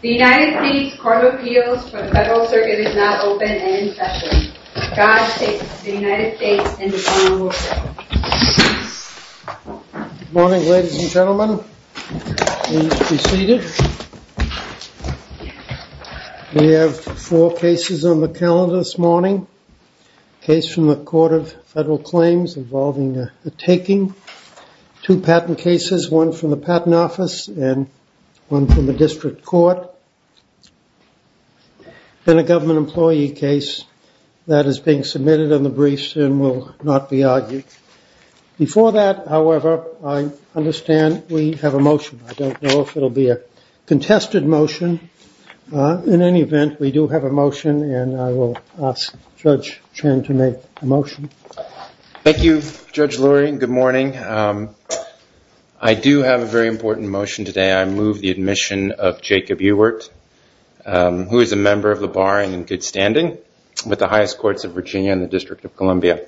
The United States Court of Appeals for the Federal Circuit is not open and in session. God save the United States and the Commonwealth. Good morning ladies and gentlemen. Please be seated. We have four cases on the calendar this morning. A case from the Court of Federal Claims involving the taking. Two patent cases, one from the patent office and one from the district court. And a government employee case that is being submitted on the briefs and will not be argued. Before that, however, I understand we have a motion. I don't know if it will be a contested motion. In any event, we do have a motion and I will ask Judge Chen to make a motion. Thank you, Judge Lurie. Good morning. I do have a very important motion today. I move the admission of Jacob Ewart, who is a member of the bar in good standing with the highest courts of Virginia and the District of Columbia.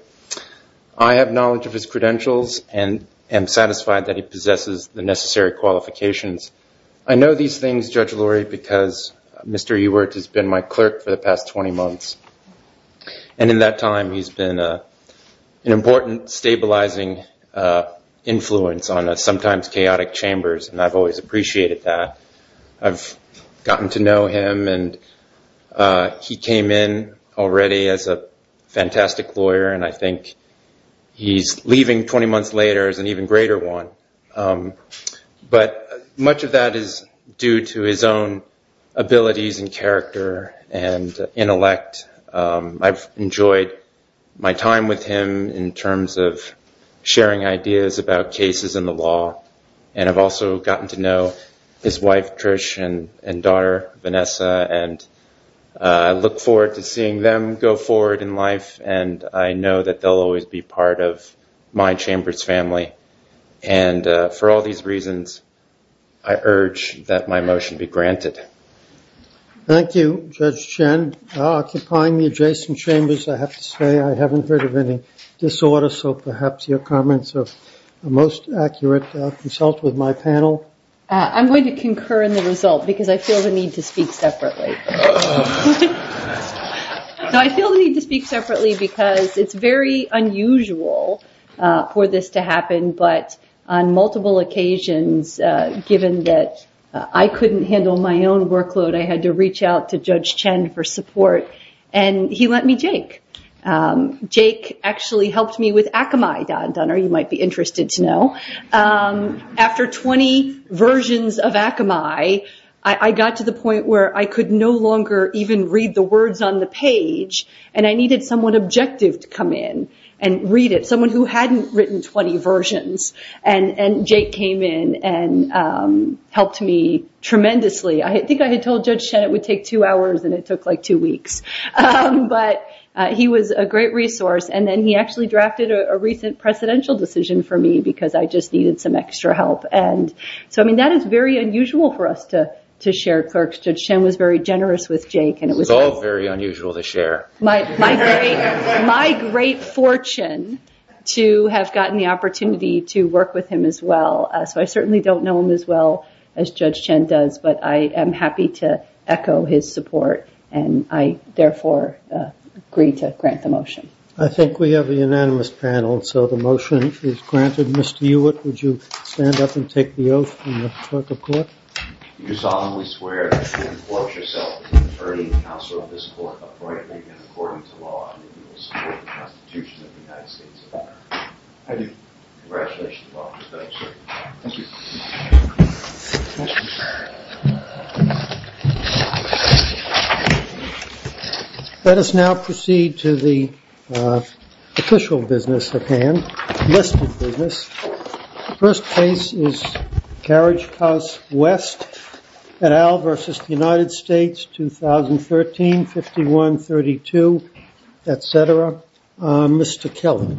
I have knowledge of his credentials and am satisfied that he possesses the necessary qualifications. I know these things, Judge Lurie, because Mr. Ewart has been my clerk for the past 20 months. And in that time, he has been an important stabilizing influence on a sometimes chaotic chambers. And I have always appreciated that. I have gotten to know him and he came in already as a fantastic lawyer. And I think he is leaving 20 months later as an even greater one. But much of that is due to his own abilities and character and intellect. I've enjoyed my time with him in terms of sharing ideas about cases in the law. And I've also gotten to know his wife, Trish, and daughter, Vanessa. And I look forward to seeing them go forward in life. And I know that they'll always be part of my chamber's family. And for all these reasons, I urge that my motion be granted. Thank you, Judge Chen. Occupying the adjacent chambers, I have to say, I haven't heard of any disorder. So perhaps your comments are most accurate. Consult with my panel. I'm going to concur in the result because I feel the need to speak separately. I feel the need to speak separately because it's very unusual for this to happen. But on multiple occasions, given that I couldn't handle my own workload, I had to reach out to Judge Chen for support. And he lent me Jake. Jake actually helped me with Akamai. After 20 versions of Akamai, I got to the point where I could no longer even read the words on the page. And I needed someone objective to come in and read it. And Jake came in and helped me tremendously. I think I had told Judge Chen it would take two hours, and it took like two weeks. But he was a great resource. And then he actually drafted a recent presidential decision for me because I just needed some extra help. So that is very unusual for us to share clerks. Judge Chen was very generous with Jake. It was all very unusual to share. My great fortune to have gotten the opportunity to work with him as well. I certainly don't know him as well as Judge Chen does, but I am happy to echo his support. And I therefore agree to grant the motion. I think we have a unanimous panel, so the motion is granted. Mr. Hewitt, would you stand up and take the oath? Let us now proceed to the official business at hand. The first case is Carriage House West, et al. versus the United States, 2013, 51-32, et cetera. Mr. Kelly.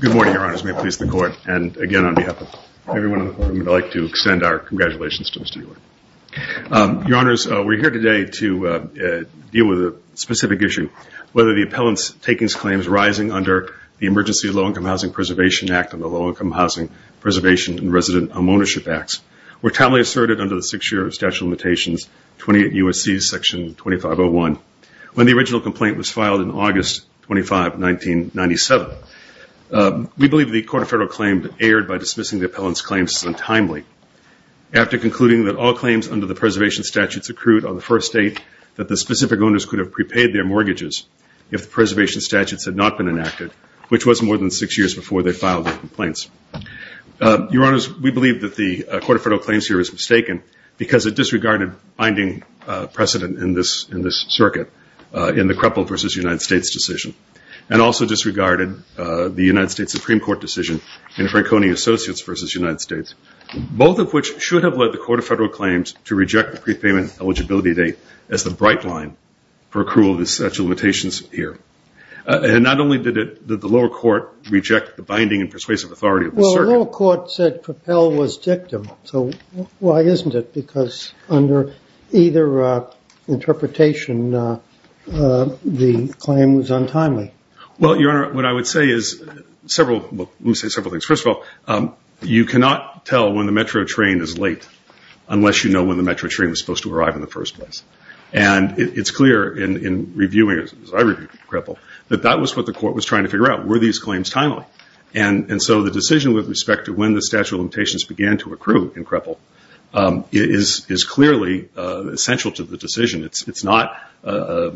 Good morning, Your Honors. May it please the Court. And again, on behalf of everyone in the courtroom, I would like to extend our congratulations to Mr. Hewitt. Your Honors, we are here today to deal with a specific issue, whether the appellant's takings claims rising under the Emergency Low-Income Housing Preservation Act and the Low-Income Housing Preservation and Resident Home Ownership Acts were timely asserted under the Six-Year Statute of Limitations, 28 U.S.C. Section 2501, when the original complaint was filed in August 25, 1997. We believe the Court of Federal Claim erred by dismissing the appellant's claims as untimely after concluding that all claims under the preservation statutes accrued on the first date that the specific owners could have prepaid their mortgages if the preservation statutes had not been enacted, which was more than six years before they filed their complaints. Your Honors, we believe that the Court of Federal Claims here was mistaken because it disregarded binding precedent in this circuit in the Kruppel v. United States decision and also disregarded the United States Supreme Court decision in Franconia Associates v. United States, both of which should have led the Court of Federal Claims to reject the prepayment eligibility date as the bright line for accrual of the statute of limitations here. And not only did the lower court reject the binding and persuasive authority of the circuit. The lower court said Kruppel was dictum, so why isn't it? Because under either interpretation, the claim was untimely. Well, Your Honor, what I would say is several, well, let me say several things. First of all, you cannot tell when the metro train is late unless you know when the metro train was supposed to arrive in the first place. And it's clear in reviewing, as I reviewed Kruppel, that that was what the court was trying to figure out. Were these claims timely? And so the decision with respect to when the statute of limitations began to accrue in Kruppel is clearly essential to the decision. It's not a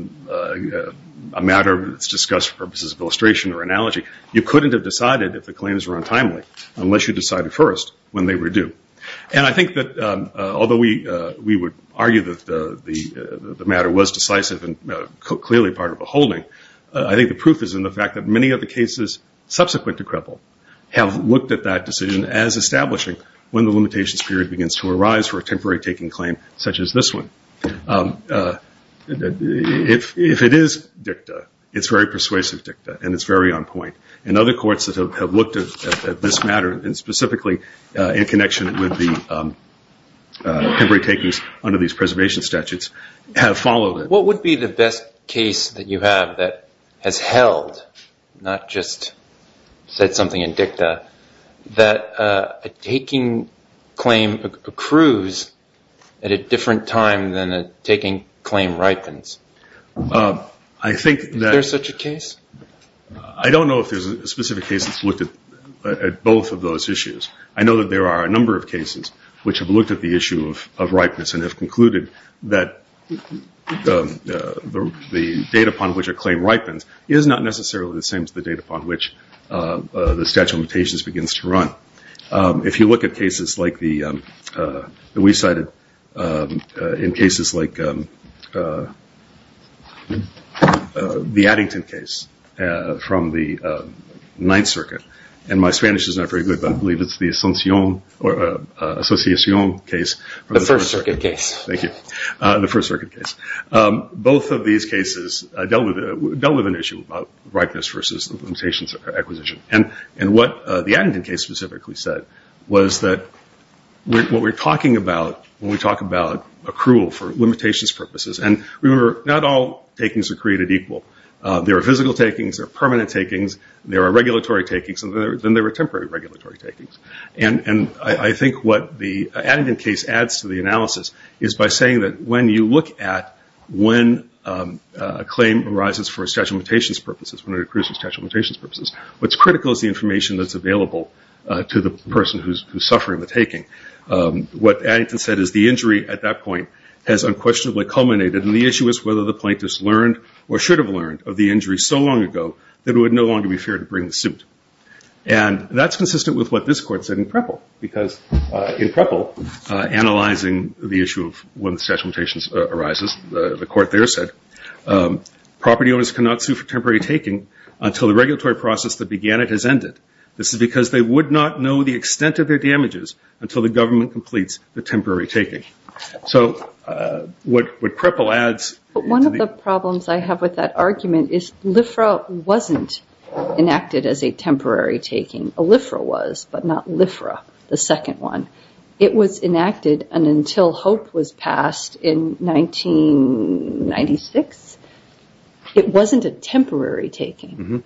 matter that's discussed for purposes of illustration or analogy. You couldn't have decided if the claims were untimely unless you decided first when they were due. And I think that although we would argue that the matter was decisive and clearly part of a holding, I think the proof is in the fact that many of the cases subsequent to Kruppel have looked at that decision as establishing when the limitations period begins to arise for a temporary taking claim such as this one. If it is dictum, it's very persuasive dictum, and it's very on point. And other courts that have looked at this matter, and specifically in connection with the temporary takings under these preservation statutes, have followed it. What would be the best case that you have that has held, not just said something in dicta, that a taking claim accrues at a different time than a taking claim ripens? Is there such a case? I don't know if there's a specific case that's looked at both of those issues. I know that there are a number of cases which have looked at the issue of ripeness and have concluded that the date upon which a claim ripens is not necessarily the same as the date upon which the statute of limitations begins to run. If you look at cases like the, we cited in cases like the Addington case from the Ninth Circuit, and my Spanish is not very good, but I believe it's the Association case. The First Circuit case. Both of these cases dealt with an issue about ripeness versus the limitations of acquisition. And what the Addington case specifically said was that what we're talking about when we talk about accrual for limitations purposes, and remember, not all takings are created equal. There are physical takings, there are permanent takings, there are regulatory takings, and then there are temporary regulatory takings. And I think what the Addington case adds to the analysis is by saying that when you look at when a claim arises for statute of limitations purposes, when it accrues for statute of limitations purposes, what's critical is the information that's available to the person who's suffering the taking. What Addington said is the injury at that point has unquestionably culminated, and the issue is whether the plaintiff's learned or should have learned of the injury so long ago that it would no longer be fair to bring the suit. And that's consistent with what this court said in Preble, because in Preble, analyzing the issue of when the statute of limitations arises, the court there said, property owners cannot sue for temporary taking until the regulatory process that began it has ended. This is because they would not know the extent of their damages until the government completes the temporary taking. So what Preble adds to the... But one of the problems I have with that argument is LIFRA wasn't enacted as a temporary taking. A LIFRA was, but not LIFRA, the second one. It was enacted until HOPE was passed in 1996. It wasn't a temporary taking.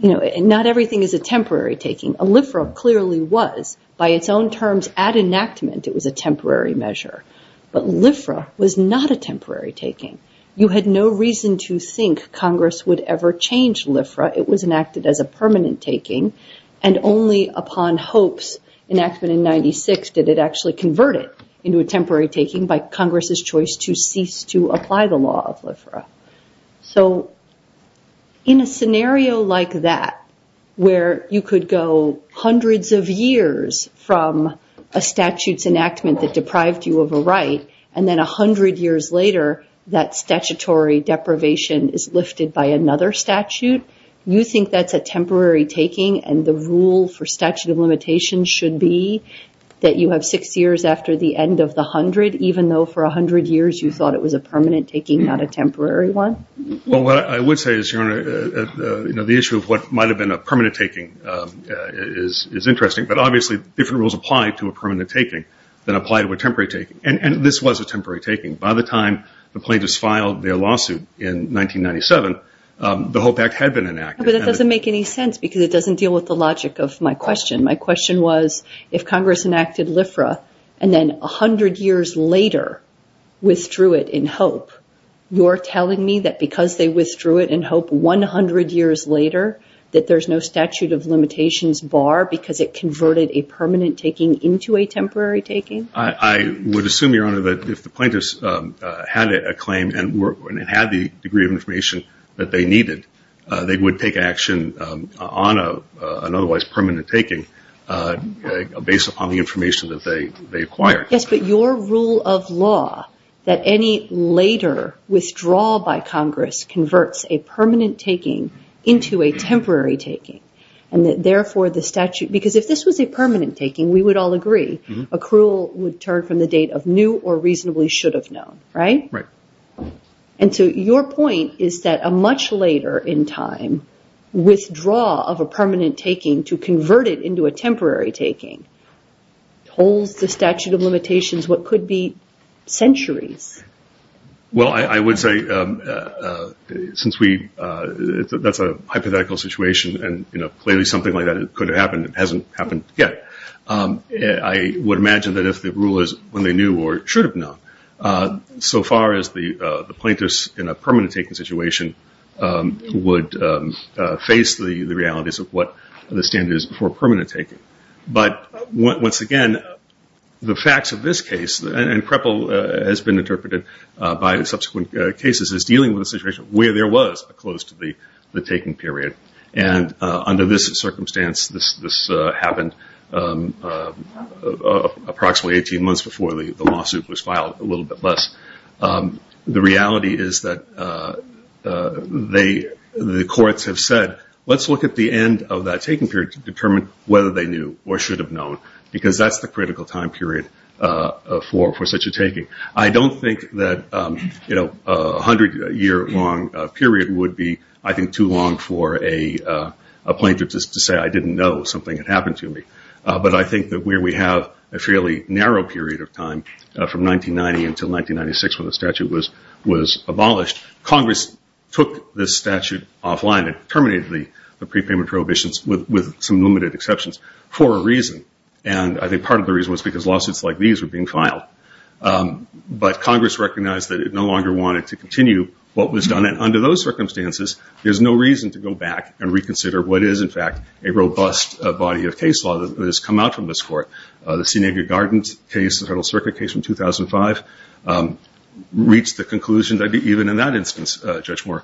Not everything is a temporary taking. A LIFRA clearly was. By its own terms, at enactment, it was a temporary measure. But LIFRA was not a temporary taking. You had no reason to think Congress would ever change LIFRA. It was enacted as a permanent taking. And only upon HOPE's enactment in 1996 did it actually convert it into a temporary taking by Congress' choice to cease to apply the law of LIFRA. So in a scenario like that, where you could go hundreds of years from a statute's enactment that deprived you of a right, and then a hundred years later that statutory deprivation is lifted by another statute, you think that's a temporary taking and the rule for statute of limitations should be that you have six years after the end of the hundred, even though for a hundred years you thought it was a permanent taking, not a temporary one? Well, what I would say is the issue of what might have been a permanent taking is interesting. But obviously different rules apply to a permanent taking than apply to a temporary taking. And this was a temporary taking. By the time the plaintiffs filed their lawsuit in 1997, the HOPE Act had been enacted. But that doesn't make any sense because it doesn't deal with the logic of my question. My question was, if Congress enacted LIFRA and then a hundred years later withdrew it in HOPE, you're telling me that because they withdrew it in HOPE one hundred years later that there's no statute of limitations bar because it converted a permanent taking into a temporary taking? I would assume, Your Honor, that if the plaintiffs had a claim and had the degree of information that they needed, they would take action on an otherwise permanent taking based upon the information that they acquired. Yes, but your rule of law that any later withdrawal by Congress converts a permanent taking into a temporary taking and that therefore the statute, because if this was a permanent taking, we would all agree, accrual would turn from the date of new or reasonably should have known, right? And so your point is that a much later in time withdrawal of a permanent taking to convert it into a temporary taking holds the statute of limitations what could be centuries. Well, I would say since that's a hypothetical situation and clearly something like that could have happened and hasn't happened yet, I would imagine that if the rulers, when they knew or should have known, so far as the plaintiffs in a permanent taking situation would face the realities of what the standard is for permanent taking. But once again, the facts of this case and CREPL has been interpreted by subsequent cases as dealing with a situation where there was a close to the taking period. And under this circumstance, this happened approximately 18 months before the lawsuit was filed, a little bit less. The reality is that the courts have said, let's look at the end of that taking period to determine whether they knew or should have known because that's the critical time period for such a taking. I don't think that a hundred year long period would be, I think, too long for a plaintiff just to say, I didn't know something had happened to me. But I think that where we have a fairly narrow period of time from 1990 until 1996 when the statute was abolished, Congress took this statute offline and terminated the prepayment prohibitions with some limited exceptions. For a reason, and I think part of the reason was because lawsuits like these were being filed. But Congress recognized that it no longer wanted to continue what was done. And under those circumstances, there's no reason to go back and reconsider what is, in fact, a robust body of case law that has come out from this court. The Senevier Gardens case, the Federal Circuit case from 2005, reached the conclusion that even in that instance, Judge Moore,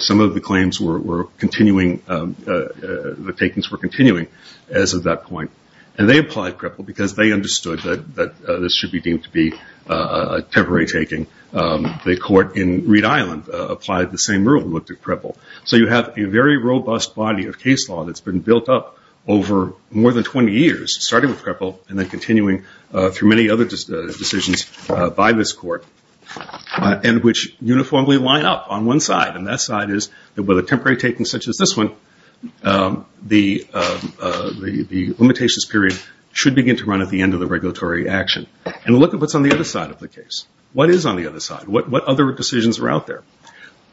some of the claims were continuing, the takings were continuing as of that point. And they applied PREPEL because they understood that this should be deemed to be a temporary taking. The court in Reed Island applied the same rule, looked at PREPEL. So you have a very robust body of case law that's been built up over more than 20 years, starting with PREPEL and then continuing through many other decisions by this court, and which uniformly line up on one side. And that side is that with a temporary taking such as this one, the limitations period should begin to run at the end of the regulatory action. And look at what's on the other side of the case. What is on the other side? What other decisions are out there?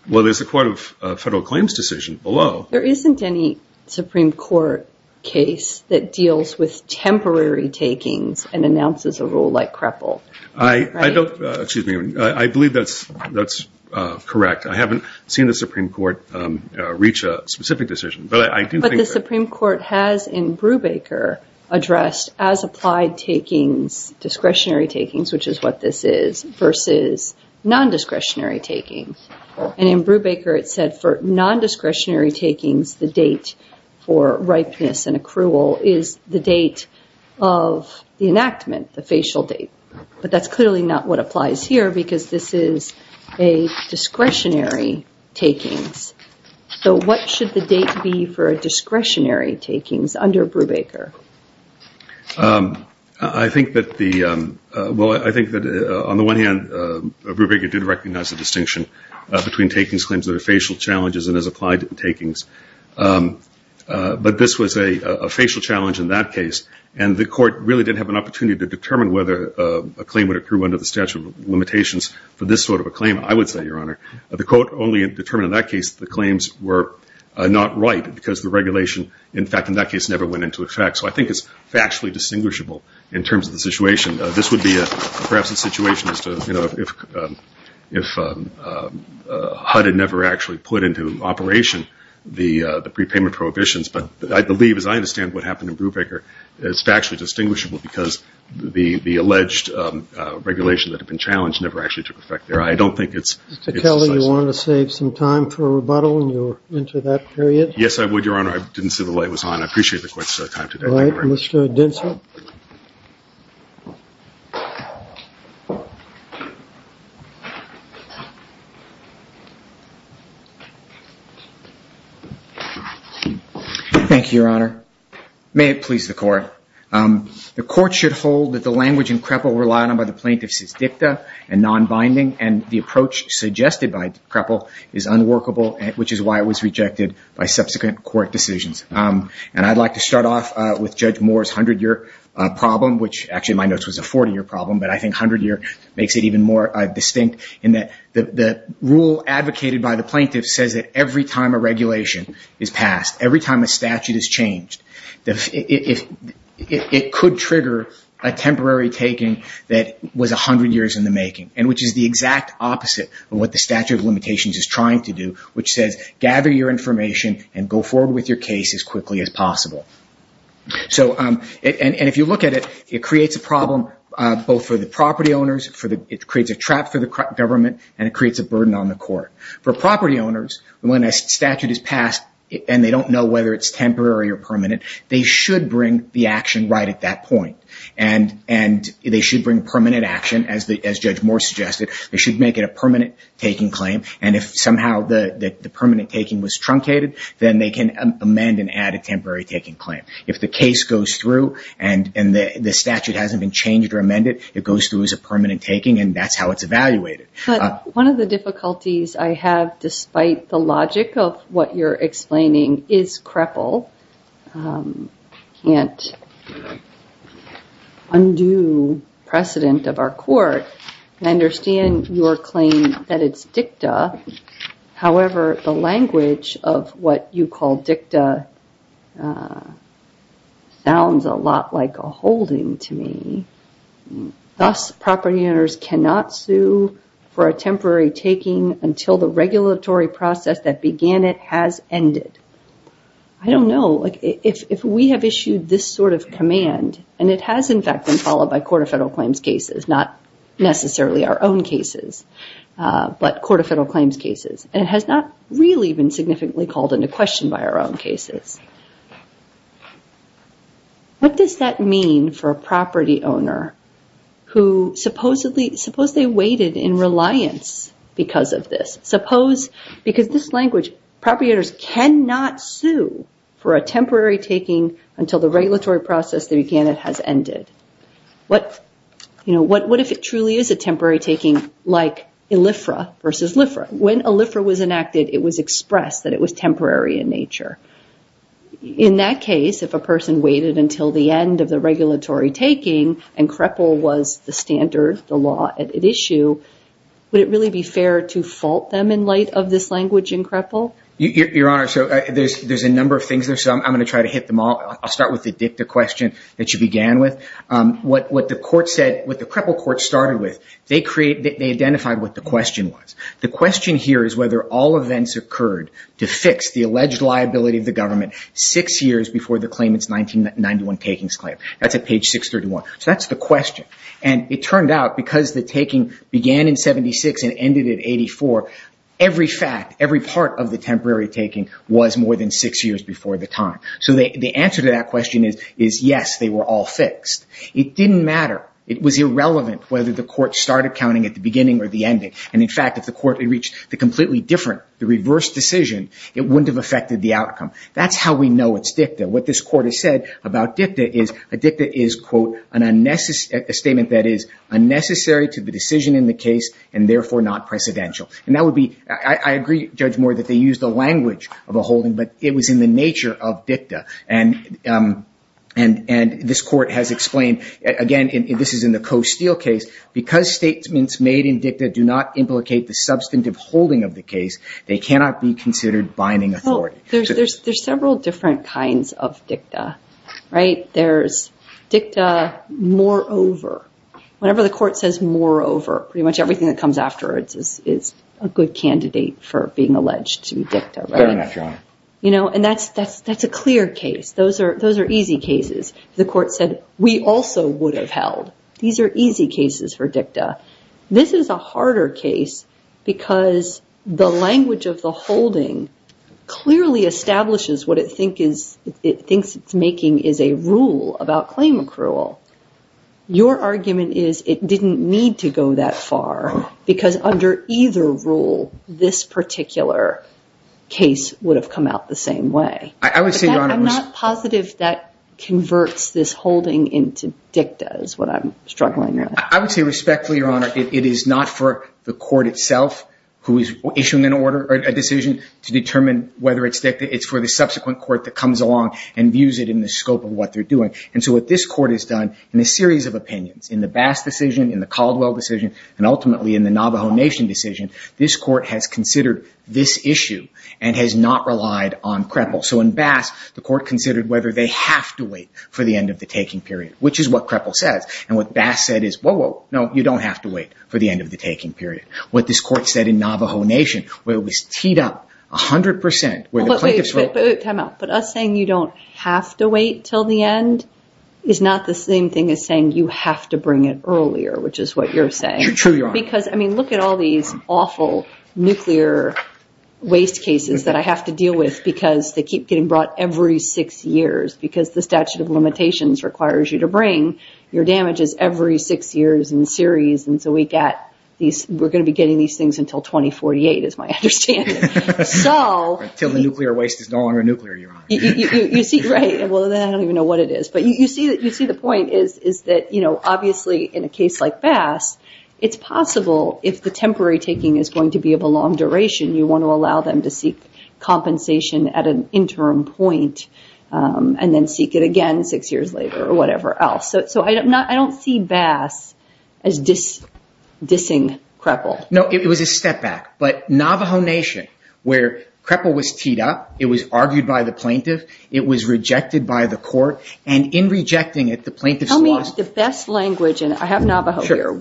Well, there's the Court of Federal Claims decision below. There isn't any Supreme Court case that deals with temporary takings and announces a rule like PREPEL. I believe that's correct. I haven't seen the Supreme Court reach a specific decision. But the Supreme Court has in Brubaker addressed as applied takings, discretionary takings, which is what this is, versus non-discretionary takings. And in Brubaker it said for non-discretionary takings, the date for ripeness and accrual is the date of the enactment, the facial date. But that's clearly not what applies here because this is a discretionary takings. So what should the date be for a discretionary takings under Brubaker? Well, I think that on the one hand, Brubaker did recognize the distinction between takings, claims that are facial challenges and as applied takings. But this was a facial challenge in that case, and the Court really didn't have an opportunity to determine whether a claim would accrue under the statute of limitations for this sort of a claim, I would say, Your Honor. The Court only determined in that case the claims were not right because the regulation, in fact, in that case, never went into effect. So I think it's factually distinguishable in terms of the situation. This would be perhaps a situation as to if HUD had never actually put into operation the prepayment prohibitions. But I believe, as I understand what happened in Brubaker, it's factually distinguishable because the alleged regulation that had been challenged never actually took effect there. Mr. Kelly, you want to save some time for a rebuttal when you're into that period? Yes, I would, Your Honor. I didn't see the light was on. I appreciate the Court's time today. Thank you, Your Honor. May it please the Court. The Court should hold that the language in Kreppel relied on by the plaintiffs is dicta and non-binding, and the approach suggested by Kreppel is unworkable, which is why it was rejected by subsequent court decisions. And I'd like to start off with Judge Moore's 100-year problem, which actually in my notes was a 40-year problem, but I think 100-year makes it even more distinct in that the rule advocated by the plaintiff says that every time a statute is changed, it could trigger a temporary taking that was 100 years in the making, which is the exact opposite of what the statute of limitations is trying to do, which says gather your information and go forward with your case as quickly as possible. And if you look at it, it creates a problem both for the property owners, it creates a trap for the government, and it creates a burden on the Court. So if a statute is changed, whether it's temporary or permanent, they should bring the action right at that point. And they should bring permanent action, as Judge Moore suggested. They should make it a permanent taking claim, and if somehow the permanent taking was truncated, then they can amend and add a temporary taking claim. If the case goes through and the statute hasn't been changed or amended, it goes through as a permanent taking, and that's how it's evaluated. One of the difficulties I have, despite the logic of what you're explaining, is CREPL. I can't undo precedent of our Court. I understand your claim that it's DICTA. However, the language of what you call DICTA sounds a lot like a holding to me. Thus, property owners cannot sue for a temporary taking until the regulatory process that began it has ended. I don't know. If we have issued this sort of command, and it has, in fact, been followed by Court of Federal Claims cases, not necessarily our own cases, but Court of Federal Claims cases. And it has not really been significantly called into question by our own cases. What does that mean for a property owner who supposedly waited in reliance because of this? Because this language, property owners cannot sue for a temporary taking until the regulatory process that began it has ended. What if it truly is a temporary taking like ELIFRA versus LIFRA? When ELIFRA was enacted, it was expressed that it was temporary in nature. In that case, if a person waited until the end of the regulatory taking, and CREPL was the standard, the law at issue, would it really be fair to fault them in light of this language in CREPL? Your Honor, there's a number of things there, so I'm going to try to hit them all. I'll start with the dicta question that you began with. What the CREPL court started with, they identified what the question was. The question here is whether all events occurred to fix the alleged liability of the government six years before the claimant's 1991 takings claim. That's at page 631. So that's the question. And it turned out, because the taking began in 76 and ended in 84, every fact, every part of the temporary taking was more than six years before the time. So the answer to that question is yes, they were all fixed. It didn't matter. It was irrelevant whether the court started counting at the beginning or the ending. And in fact, if the court had reached the completely different, the reverse decision, it wouldn't have affected the outcome. That's how we know it's dicta. What this court has said about dicta is a dicta is, quote, a statement that is unnecessary to the decision in the case and therefore not precedential. I agree, Judge Moore, that they used the language of a holding, but it was in the nature of dicta. And this court has explained, again, this is in the Coe-Steele case, because statements made in dicta do not implicate the substantive holding of the case, they cannot be considered binding authority. Well, there's several different kinds of dicta, right? There's dicta moreover. Whenever the court says moreover, pretty much everything that comes afterwards is a good candidate for being alleged to be dicta, right? Fair enough, Your Honor. And that's a clear case. Those are easy cases. The court said, we also would have held. These are easy cases for dicta. This is a harder case because the language of the holding clearly establishes what it thinks it's making is a rule about claim accrual. Your argument is it didn't need to go that far, because under either rule, this particular case would have come out the same way. I'm not positive that converts this holding into dicta is what I'm struggling with. I would say respectfully, Your Honor, it is not for the court itself who is issuing a decision to determine whether it's dicta. It's for the subsequent court that comes along and views it in the scope of what they're doing. And so what this court has done in a series of opinions, in the Bass decision, in the Caldwell decision, and ultimately in the Navajo Nation decision, this court has considered this issue and has not relied on Kreppel. So in Bass, the court considered whether they have to wait for the end of the taking period, which is what Kreppel says. And what Bass said is, whoa, whoa, no, you don't have to wait for the end of the taking period. What this court said in Navajo Nation, where it was teed up 100%, where the plaintiffs were... But us saying you don't have to wait until the end is not the same thing as saying you have to bring it earlier, which is what you're saying. Because look at all these awful nuclear waste cases that I have to deal with because they keep getting brought every six years because the statute of limitations requires you to bring your damages every six years in series. And so we're going to be getting these things until 2048, is my understanding. Until the nuclear waste is no longer nuclear, Your Honor. Well, then I don't even know what it is. But you see the point is that obviously in a case like Bass, it's possible if the temporary taking is going to be of a long duration, you want to allow them to seek compensation at an interim point and then seek it again six years later or whatever else. So I don't see Bass as dissing Kreppel. No, it was a step back. But Navajo Nation, where Kreppel was teed up, it was argued by the plaintiff, it was rejected by the court, and in rejecting it, the plaintiffs lost... Tell me the best language, and I have Navajo here.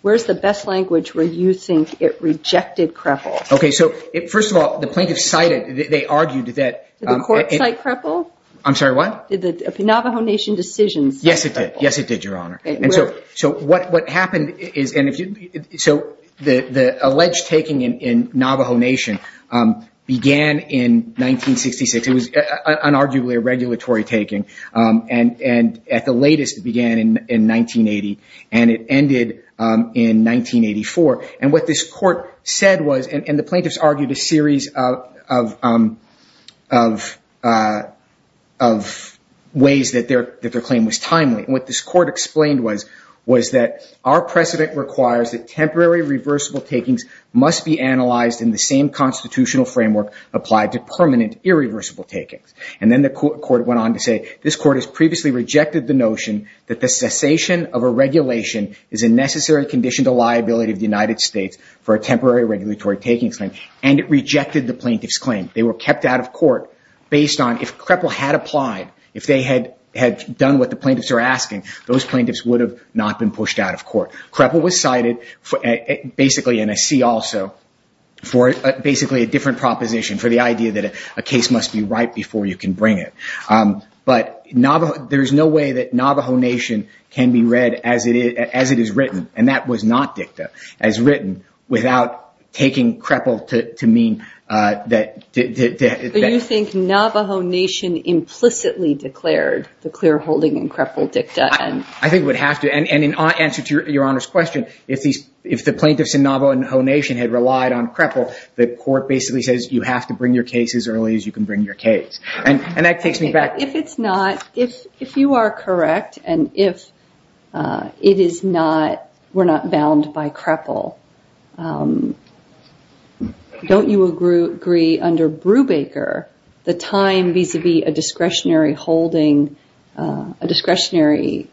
Where's the best language where you think it rejected Kreppel? The court cited Kreppel? I'm sorry, what? Yes, it did, Your Honor. So the alleged taking in Navajo Nation began in 1966. It was unarguably a regulatory taking, and at the latest it began in 1980, and it ended in 1984. And what this court said was, and the plaintiffs argued a series of ways that their claim was timely. And what this court explained was, was that our precedent requires that temporary reversible takings must be analyzed in the same constitutional framework applied to permanent irreversible takings. And then the court went on to say, this court has previously rejected the notion that the cessation of a taking claim, and it rejected the plaintiff's claim. They were kept out of court based on if Kreppel had applied, if they had done what the plaintiffs were asking, those plaintiffs would have not been pushed out of court. Kreppel was cited, basically in a C also, for basically a different proposition, for the idea that a case must be right before you can bring it. But there's no way that Navajo Nation can be read as it is not dicta, as written, without taking Kreppel to mean that... Do you think Navajo Nation implicitly declared the clear holding in Kreppel dicta? I think it would have to, and in answer to your Honor's question, if the plaintiffs in Navajo Nation had relied on Kreppel, the court basically says, you have to bring your case as early as you can bring your case. And that takes me back... If it's not, if you are correct, and if it is not, we're not bound by Kreppel, don't you agree under Brubaker, the time vis-a-vis a discretionary holding, a discretionary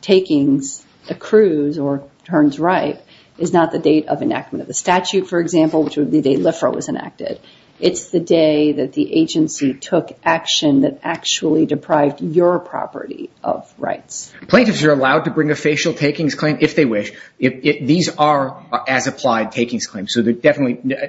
takings accrues, or turns right, is not the date of enactment of the statute, for example, which would be the day LIFRA was enacted. It's the day that the agency took action that actually deprived your property of rights. Plaintiffs are allowed to bring a facial takings claim if they wish. These are as-applied takings claims, so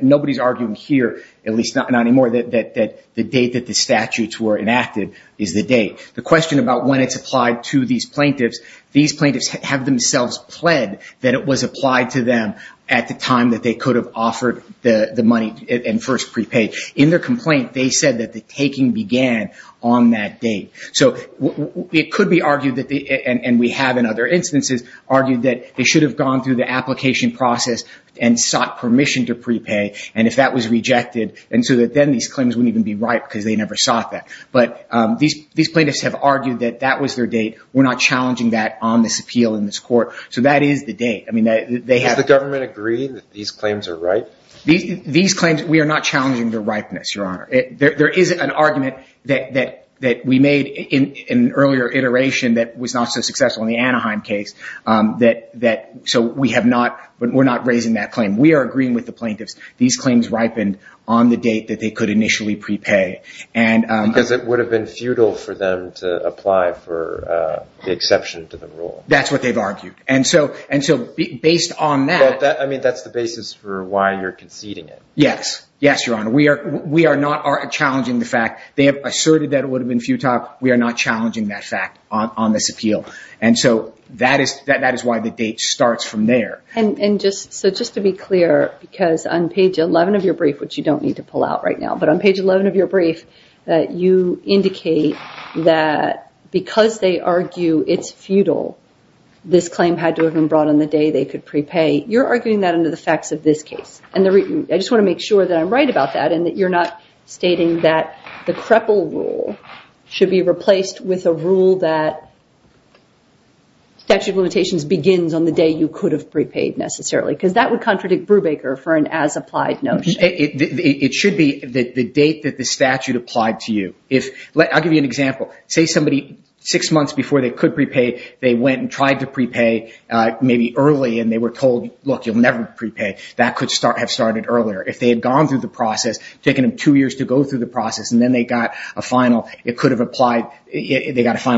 nobody's arguing here, at least not anymore, that the date that the statutes were enacted is the date. The question about when it's applied to these plaintiffs, these plaintiffs have themselves pled that it was applied to them at the time that they could have offered the money and first prepaid. In their complaint, they said that the taking began on that date. So it could be argued that they, and we have in other instances, argued that they should have gone through the application process and sought permission to prepay, and if that was rejected, and so that then these claims wouldn't even be right because they never sought that. But these claims are not challenging the rightness, Your Honor. There is an argument that we made in an earlier iteration that was not so successful in the Anaheim case that, so we have not, we're not raising that claim. We are agreeing with the plaintiffs. These claims ripened on the date that they could initially prepay. Because it would have been futile for them to apply for the exception to the rule. That's what they've argued. And so based on that... I mean, that's the basis for why you're conceding it. Yes, Your Honor. We are not challenging the fact. They have asserted that it would have been futile. We are not challenging that fact on this appeal. And so that is why the date starts from there. And just to be clear, because on page 11 of your brief, which you don't need to pull out right now, but on page 11 of your brief, you indicate that because they argue it's futile, this claim had to have been brought on the day they could prepay. You're arguing that under the facts of this case. And I just want to make sure that I'm right about that and that you're not stating that the Krepel rule should be replaced with a rule that statute of limitations begins on the day you could have prepaid necessarily. Because that would contradict Brubaker for an as-applied notion. It should be the date that the statute applied to you. I'll give you an example. Say somebody six months before they could prepay, they went and tried to prepay maybe early and they were told, look, you'll never prepay. That could have started earlier. If they had gone through the process, taken them two years to go through the process, and then they got a final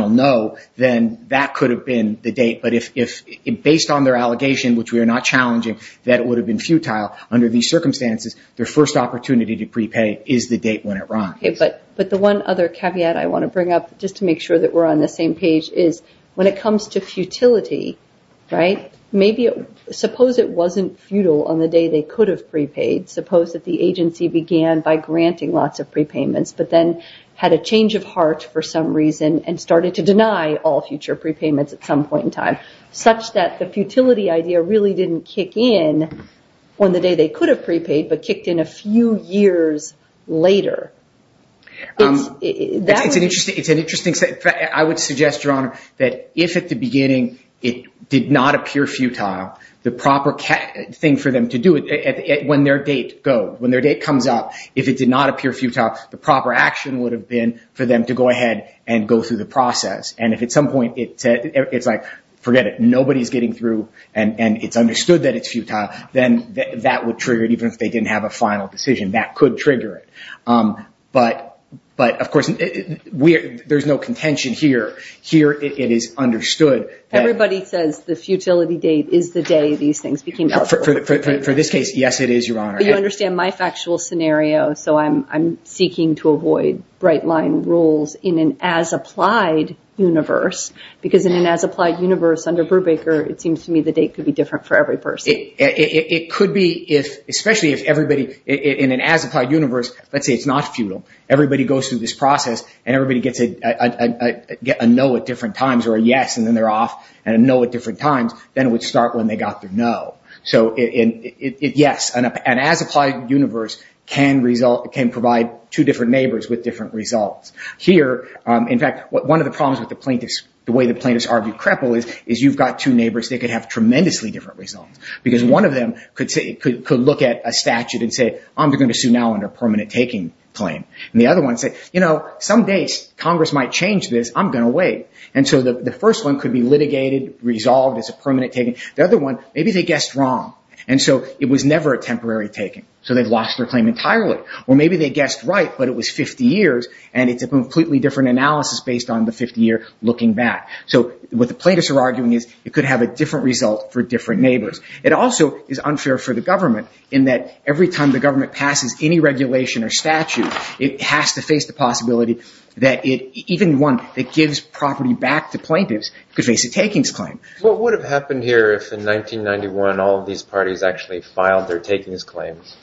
no, then that could have been the date. But based on their allegation, which we are not challenging, that it would have been futile under these circumstances, their first opportunity to prepay is the date when it runs. But the one other caveat I want to bring up, just to make sure that we're on the same page, is when it comes to futility, right, maybe suppose it wasn't futile on the day they could have prepaid. Suppose that the agency began by granting lots of all future prepayments at some point in time, such that the futility idea really didn't kick in on the day they could have prepaid, but kicked in a few years later. It's an interesting, I would suggest, Your Honor, that if at the beginning it did not appear futile, the proper thing for them to do when their date comes up, if it did not appear futile, the proper thing would have been for them to go ahead and go through the process. And if at some point it's like, forget it, nobody's getting through and it's understood that it's futile, then that would trigger it, even if they didn't have a final decision. That could trigger it. But of course, there's no contention here. Here it is understood. Everybody says the futility date is the day these things became available. For this case, yes, it is, Your Honor. I'm seeking to avoid bright-line rules in an as-applied universe, because in an as-applied universe under Brubaker, it seems to me the date could be different for every person. It could be, especially if everybody in an as-applied universe, let's say it's not futile. Everybody goes through this process and everybody gets a no at different times or a yes and then they're off, and a no at different times, then it would start when they got the no. Yes, an as-applied universe can provide two different neighbors with different results. Here, in fact, one of the problems with the way the plaintiffs argue cripple is you've got two neighbors that could have tremendously different results, because one of them could look at a statute and say, I'm going to sue now under permanent taking claim. The other one could say, some days Congress might change this. I'm going to wait. The first one could be litigated, resolved as a permanent taking. The other one, maybe they guessed wrong. It was never a temporary taking, so they lost their claim entirely. Maybe they guessed right, but it was 50 years, and it's a completely different analysis based on the 50-year looking back. What the plaintiffs are arguing is it could have a different result for different neighbors. It also is unfair for the government in that every time the government passes any regulation or statute, it has to face the possibility that even one that gives property back to plaintiffs could face a takings claim. What would have happened here if in 1991 all of these parties actually filed their takings claims,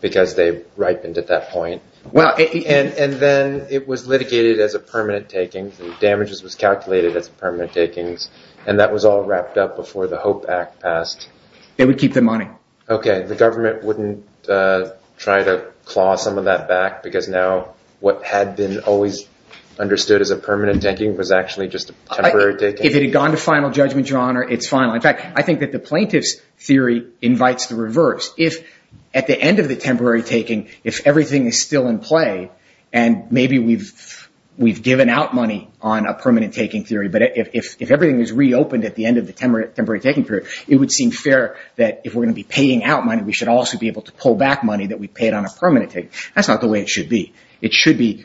because they ripened at that point, and then it was litigated as a permanent taking, and damages was calculated as permanent takings, and that was all wrapped up before the HOPE Act passed? They would keep the money. The government wouldn't try to claw some of that back because now what had been always understood as a permanent taking was actually just a temporary taking? If it had gone to final judgment, Your Honor, it's final. In fact, I think that the plaintiff's theory invites the reverse. If at the end of the temporary taking, if everything is still in play, and maybe we've given out money on a permanent taking theory, but if everything is reopened at the end of the temporary taking theory, it would seem fair that if we're going to be paying out money, we should also be able to pull back money that we paid on a permanent taking. That's not the way it should be. It should be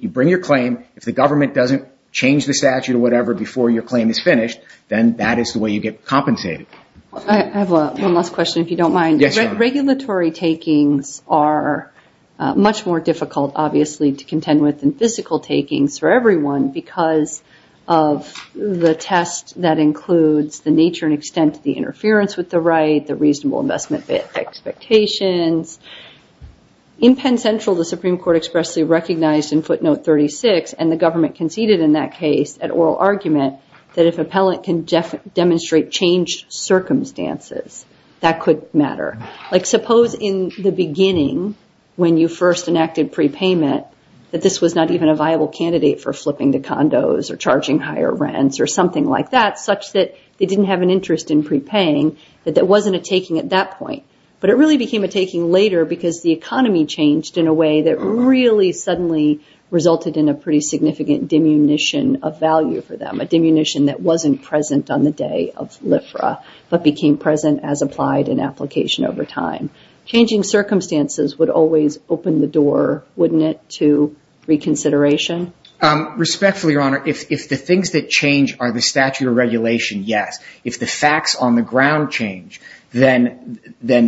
you bring your claim, if the government doesn't change the statute or whatever before your claim is finished, then that is the way you get compensated. I have one last question, if you don't mind. Regulatory takings are much more difficult, obviously, to contend with than physical takings for everyone, because of the test that includes the nature and extent of the interference with the right, the reasonable investment expectations. In Penn Central, the Supreme Court expressly recognized in footnote 36, and the government conceded in that case an oral argument that if an appellant can demonstrate changed circumstances, that could matter. Suppose in the beginning, when you first enacted prepayment, that this was not even a viable candidate for flipping to condos or charging higher rents or something like that, such that they didn't have an interest in prepaying, that there wasn't a taking at that point. But it really became a taking later, because the economy changed in a way that really suddenly resulted in a pretty significant diminution of value for them, a diminution that wasn't present on the day of LIFRA, but became present as applied in application over time. Changing circumstances would always open the door, wouldn't it, to reconsideration? Respectfully, Your Honor, if the things that change are the statute of regulation, yes. If the facts on the ground change, then they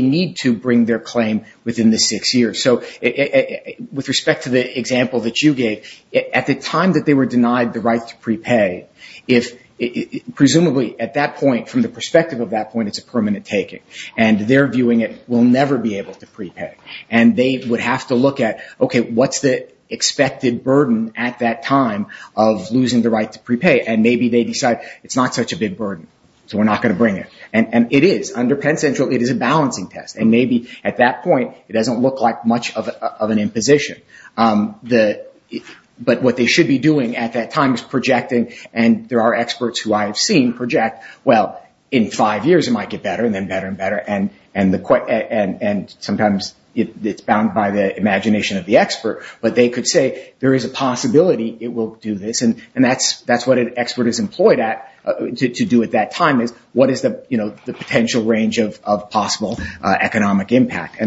need to bring their claim within the six years. So with respect to the example that you gave, at the time that they were denied the right to prepay, presumably at that point, from the perspective of that point, it's a permanent taking. And they're viewing it, we'll never be able to prepay. And they would have to look at, okay, what's the expected burden at that time of losing the right to prepay? And maybe they decide, it's not such a big burden, so we're not going to bring it. And it is. Under Penn Central, it is a balancing test. And maybe at that point, it doesn't look like much of an imposition. But what they should be doing at that time is projecting. And there are experts who I have seen project, well, in five years it might get better and then better and better. And sometimes it's bound by the imagination of the expert. But they could say, there is a possibility it will do this. And that's what an expert is employed at to do at that time is, what is the potential range of possible economic impact?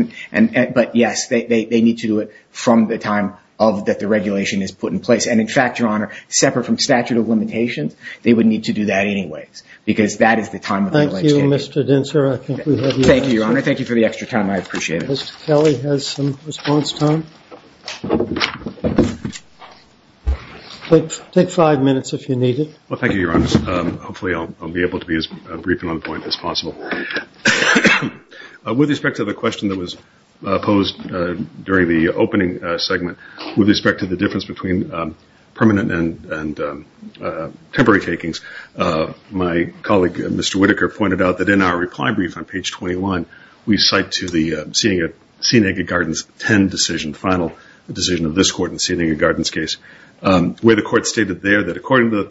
But yes, they need to do it from the time that the regulation is put in place. And in fact, Your Honor, separate from statute of limitations, they would need to do that anyways. Because that is the time of the legislation. Thank you, Your Honor. Thank you for the extra time. I appreciate it. Mr. Kelly has some response time. Take five minutes if you need it. Well, thank you, Your Honor. Hopefully I'll be able to be as brief and on point as possible. With respect to the question that was posed during the opening segment, with respect to the difference between permanent and temporary takings, my colleague, Mr. Whitaker, pointed out that in our reply brief on page 21, we cite to the Seneca Gardens 10 decision, the final decision of this court in the Seneca Gardens case, where the court stated there that according to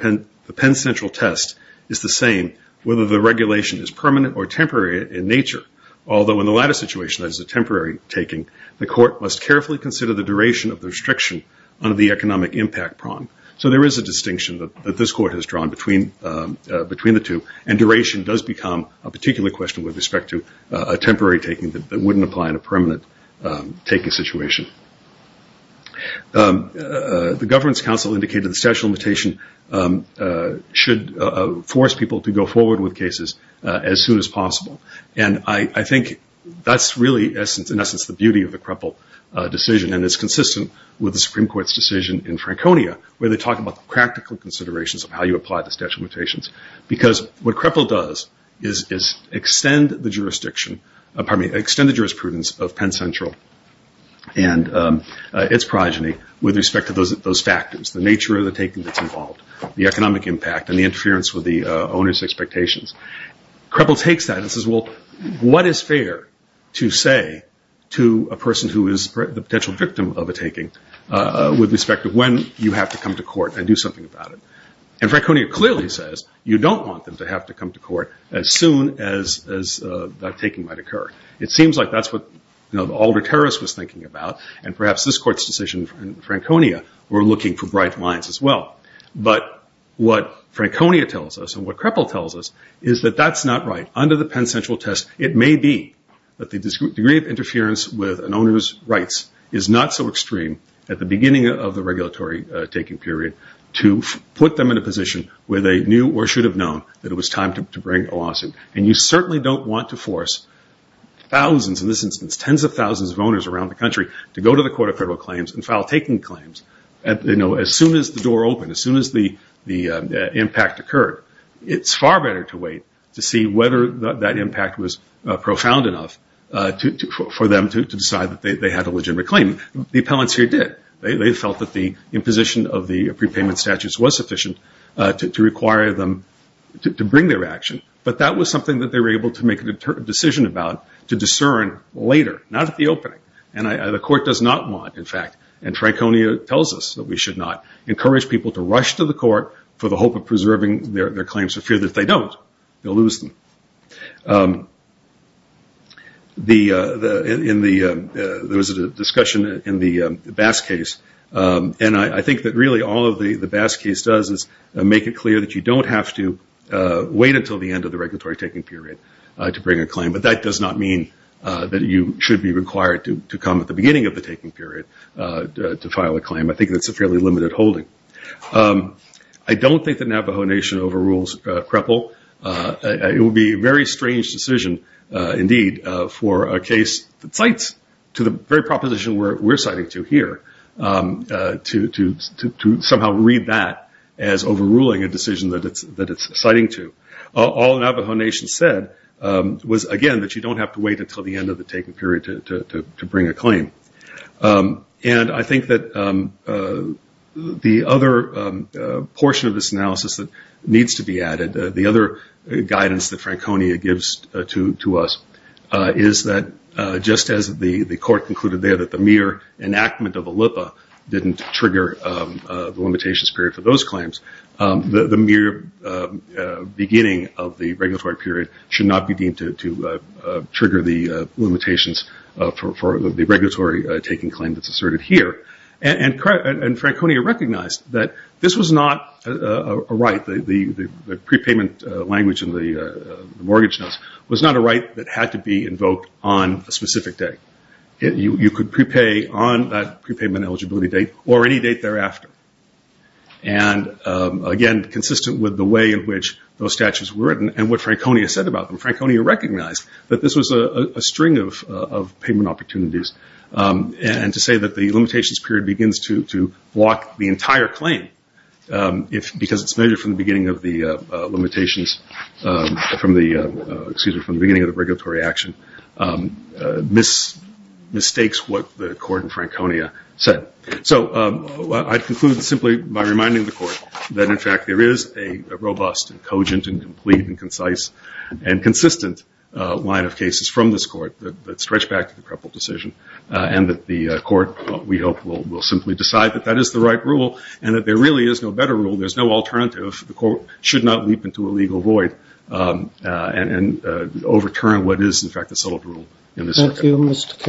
the Penn Central test, it's the same whether the regulation is permanent or temporary in nature. Although in the latter situation, that is a temporary taking, the court must carefully consider the duration of the restriction under the economic impact prong. So there is a distinction that this court has drawn between the two, and duration does become a particular question with respect to a temporary taking that wouldn't apply in a permanent taking situation. The Governance Council indicated the statute of limitation should force people to go forward with cases as soon as possible, and I think that's really, in essence, the beauty of the Kreppel decision, and it's consistent with the Supreme Court's decision in Franconia, where they talk about the practical considerations of how you apply the statute of limitations. Because what Kreppel does is extend the jurisprudence of Penn Central and its progeny with respect to those factors, the nature of the taking that's involved, the economic impact, and the interference with the owner's expectations. Kreppel takes that and says, well, what is fair to say to a person who is the potential victim of a taking, with respect to when you have to come to court and do something about it. And Franconia clearly says you don't want them to have to come to court as soon as that taking might occur. It seems like that's what the older terrorist was thinking about, and perhaps this court's decision in Franconia were looking for bright lines as well. But what Franconia tells us and what Kreppel tells us is that that's not right. Under the Penn Central test, it may be that the degree of interference with an owner's rights is not so extreme at the beginning of the regulatory taking period to put them in a position where they knew or should have known that it was time to bring a lawsuit. And you certainly don't want to force thousands, in this instance tens of thousands of owners around the country, to go to the Court of Federal Claims and file taking claims as soon as the door opened, as soon as the impact occurred. It's far better to wait to see whether that impact was profound enough for them to decide that they had a legitimate claim. The appellants here did. They felt that the imposition of the prepayment statutes was sufficient to require them to bring their action. But that was something that they were able to make a decision about to discern later, not at the opening. And the court does not want, in fact, and Franconia tells us that we should not, encourage people to rush to the court for the hope of preserving their claims for fear that if they don't, they'll lose them. There was a discussion in the Bass case, and I think that really all the Bass case does is make it clear that you don't have to wait until the end of the regulatory taking period to bring a claim. But that does not mean that you should be required to come at the beginning of the taking period to file a claim. I think that's a fairly limited holding. I don't think that Navajo Nation overrules CREPL. It would be a very strange decision, indeed, for a case that cites to the very proposition we're citing to here, to somehow read that as overruling a decision that it's citing to. All Navajo Nation said was, again, that you don't have to wait until the end of the taking period to bring a claim. And I think that the other portion of this analysis that needs to be added, the other guidance that Franconia gives to us, is that just as the court concluded there that the mere enactment of a LIPA didn't trigger the limitations period for those claims, the mere beginning of the regulatory period should not be deemed to trigger the limitations for the regulatory period. And Franconia recognized that this was not a right. The prepayment language in the mortgage notes was not a right that had to be invoked on a specific day. You could prepay on that prepayment eligibility date or any date thereafter. And, again, consistent with the way in which those statutes were written and what Franconia said about them, Franconia recognized that this was a string of payment opportunities. And to say that the limitations period begins to block the entire claim, because it's measured from the beginning of the limitations, excuse me, from the beginning of the regulatory action, mistakes what the court in Franconia said. So I'd conclude simply by reminding the court that, in fact, there is a robust and cogent and complete and concise and consistent line of cases from this court that stretch back to the Prepl decision and that the court, we hope, will simply decide that that is the right rule and that there really is no better rule, there's no alternative, the court should not leap into a legal void and overturn what is, in fact, the solid rule in this circuit.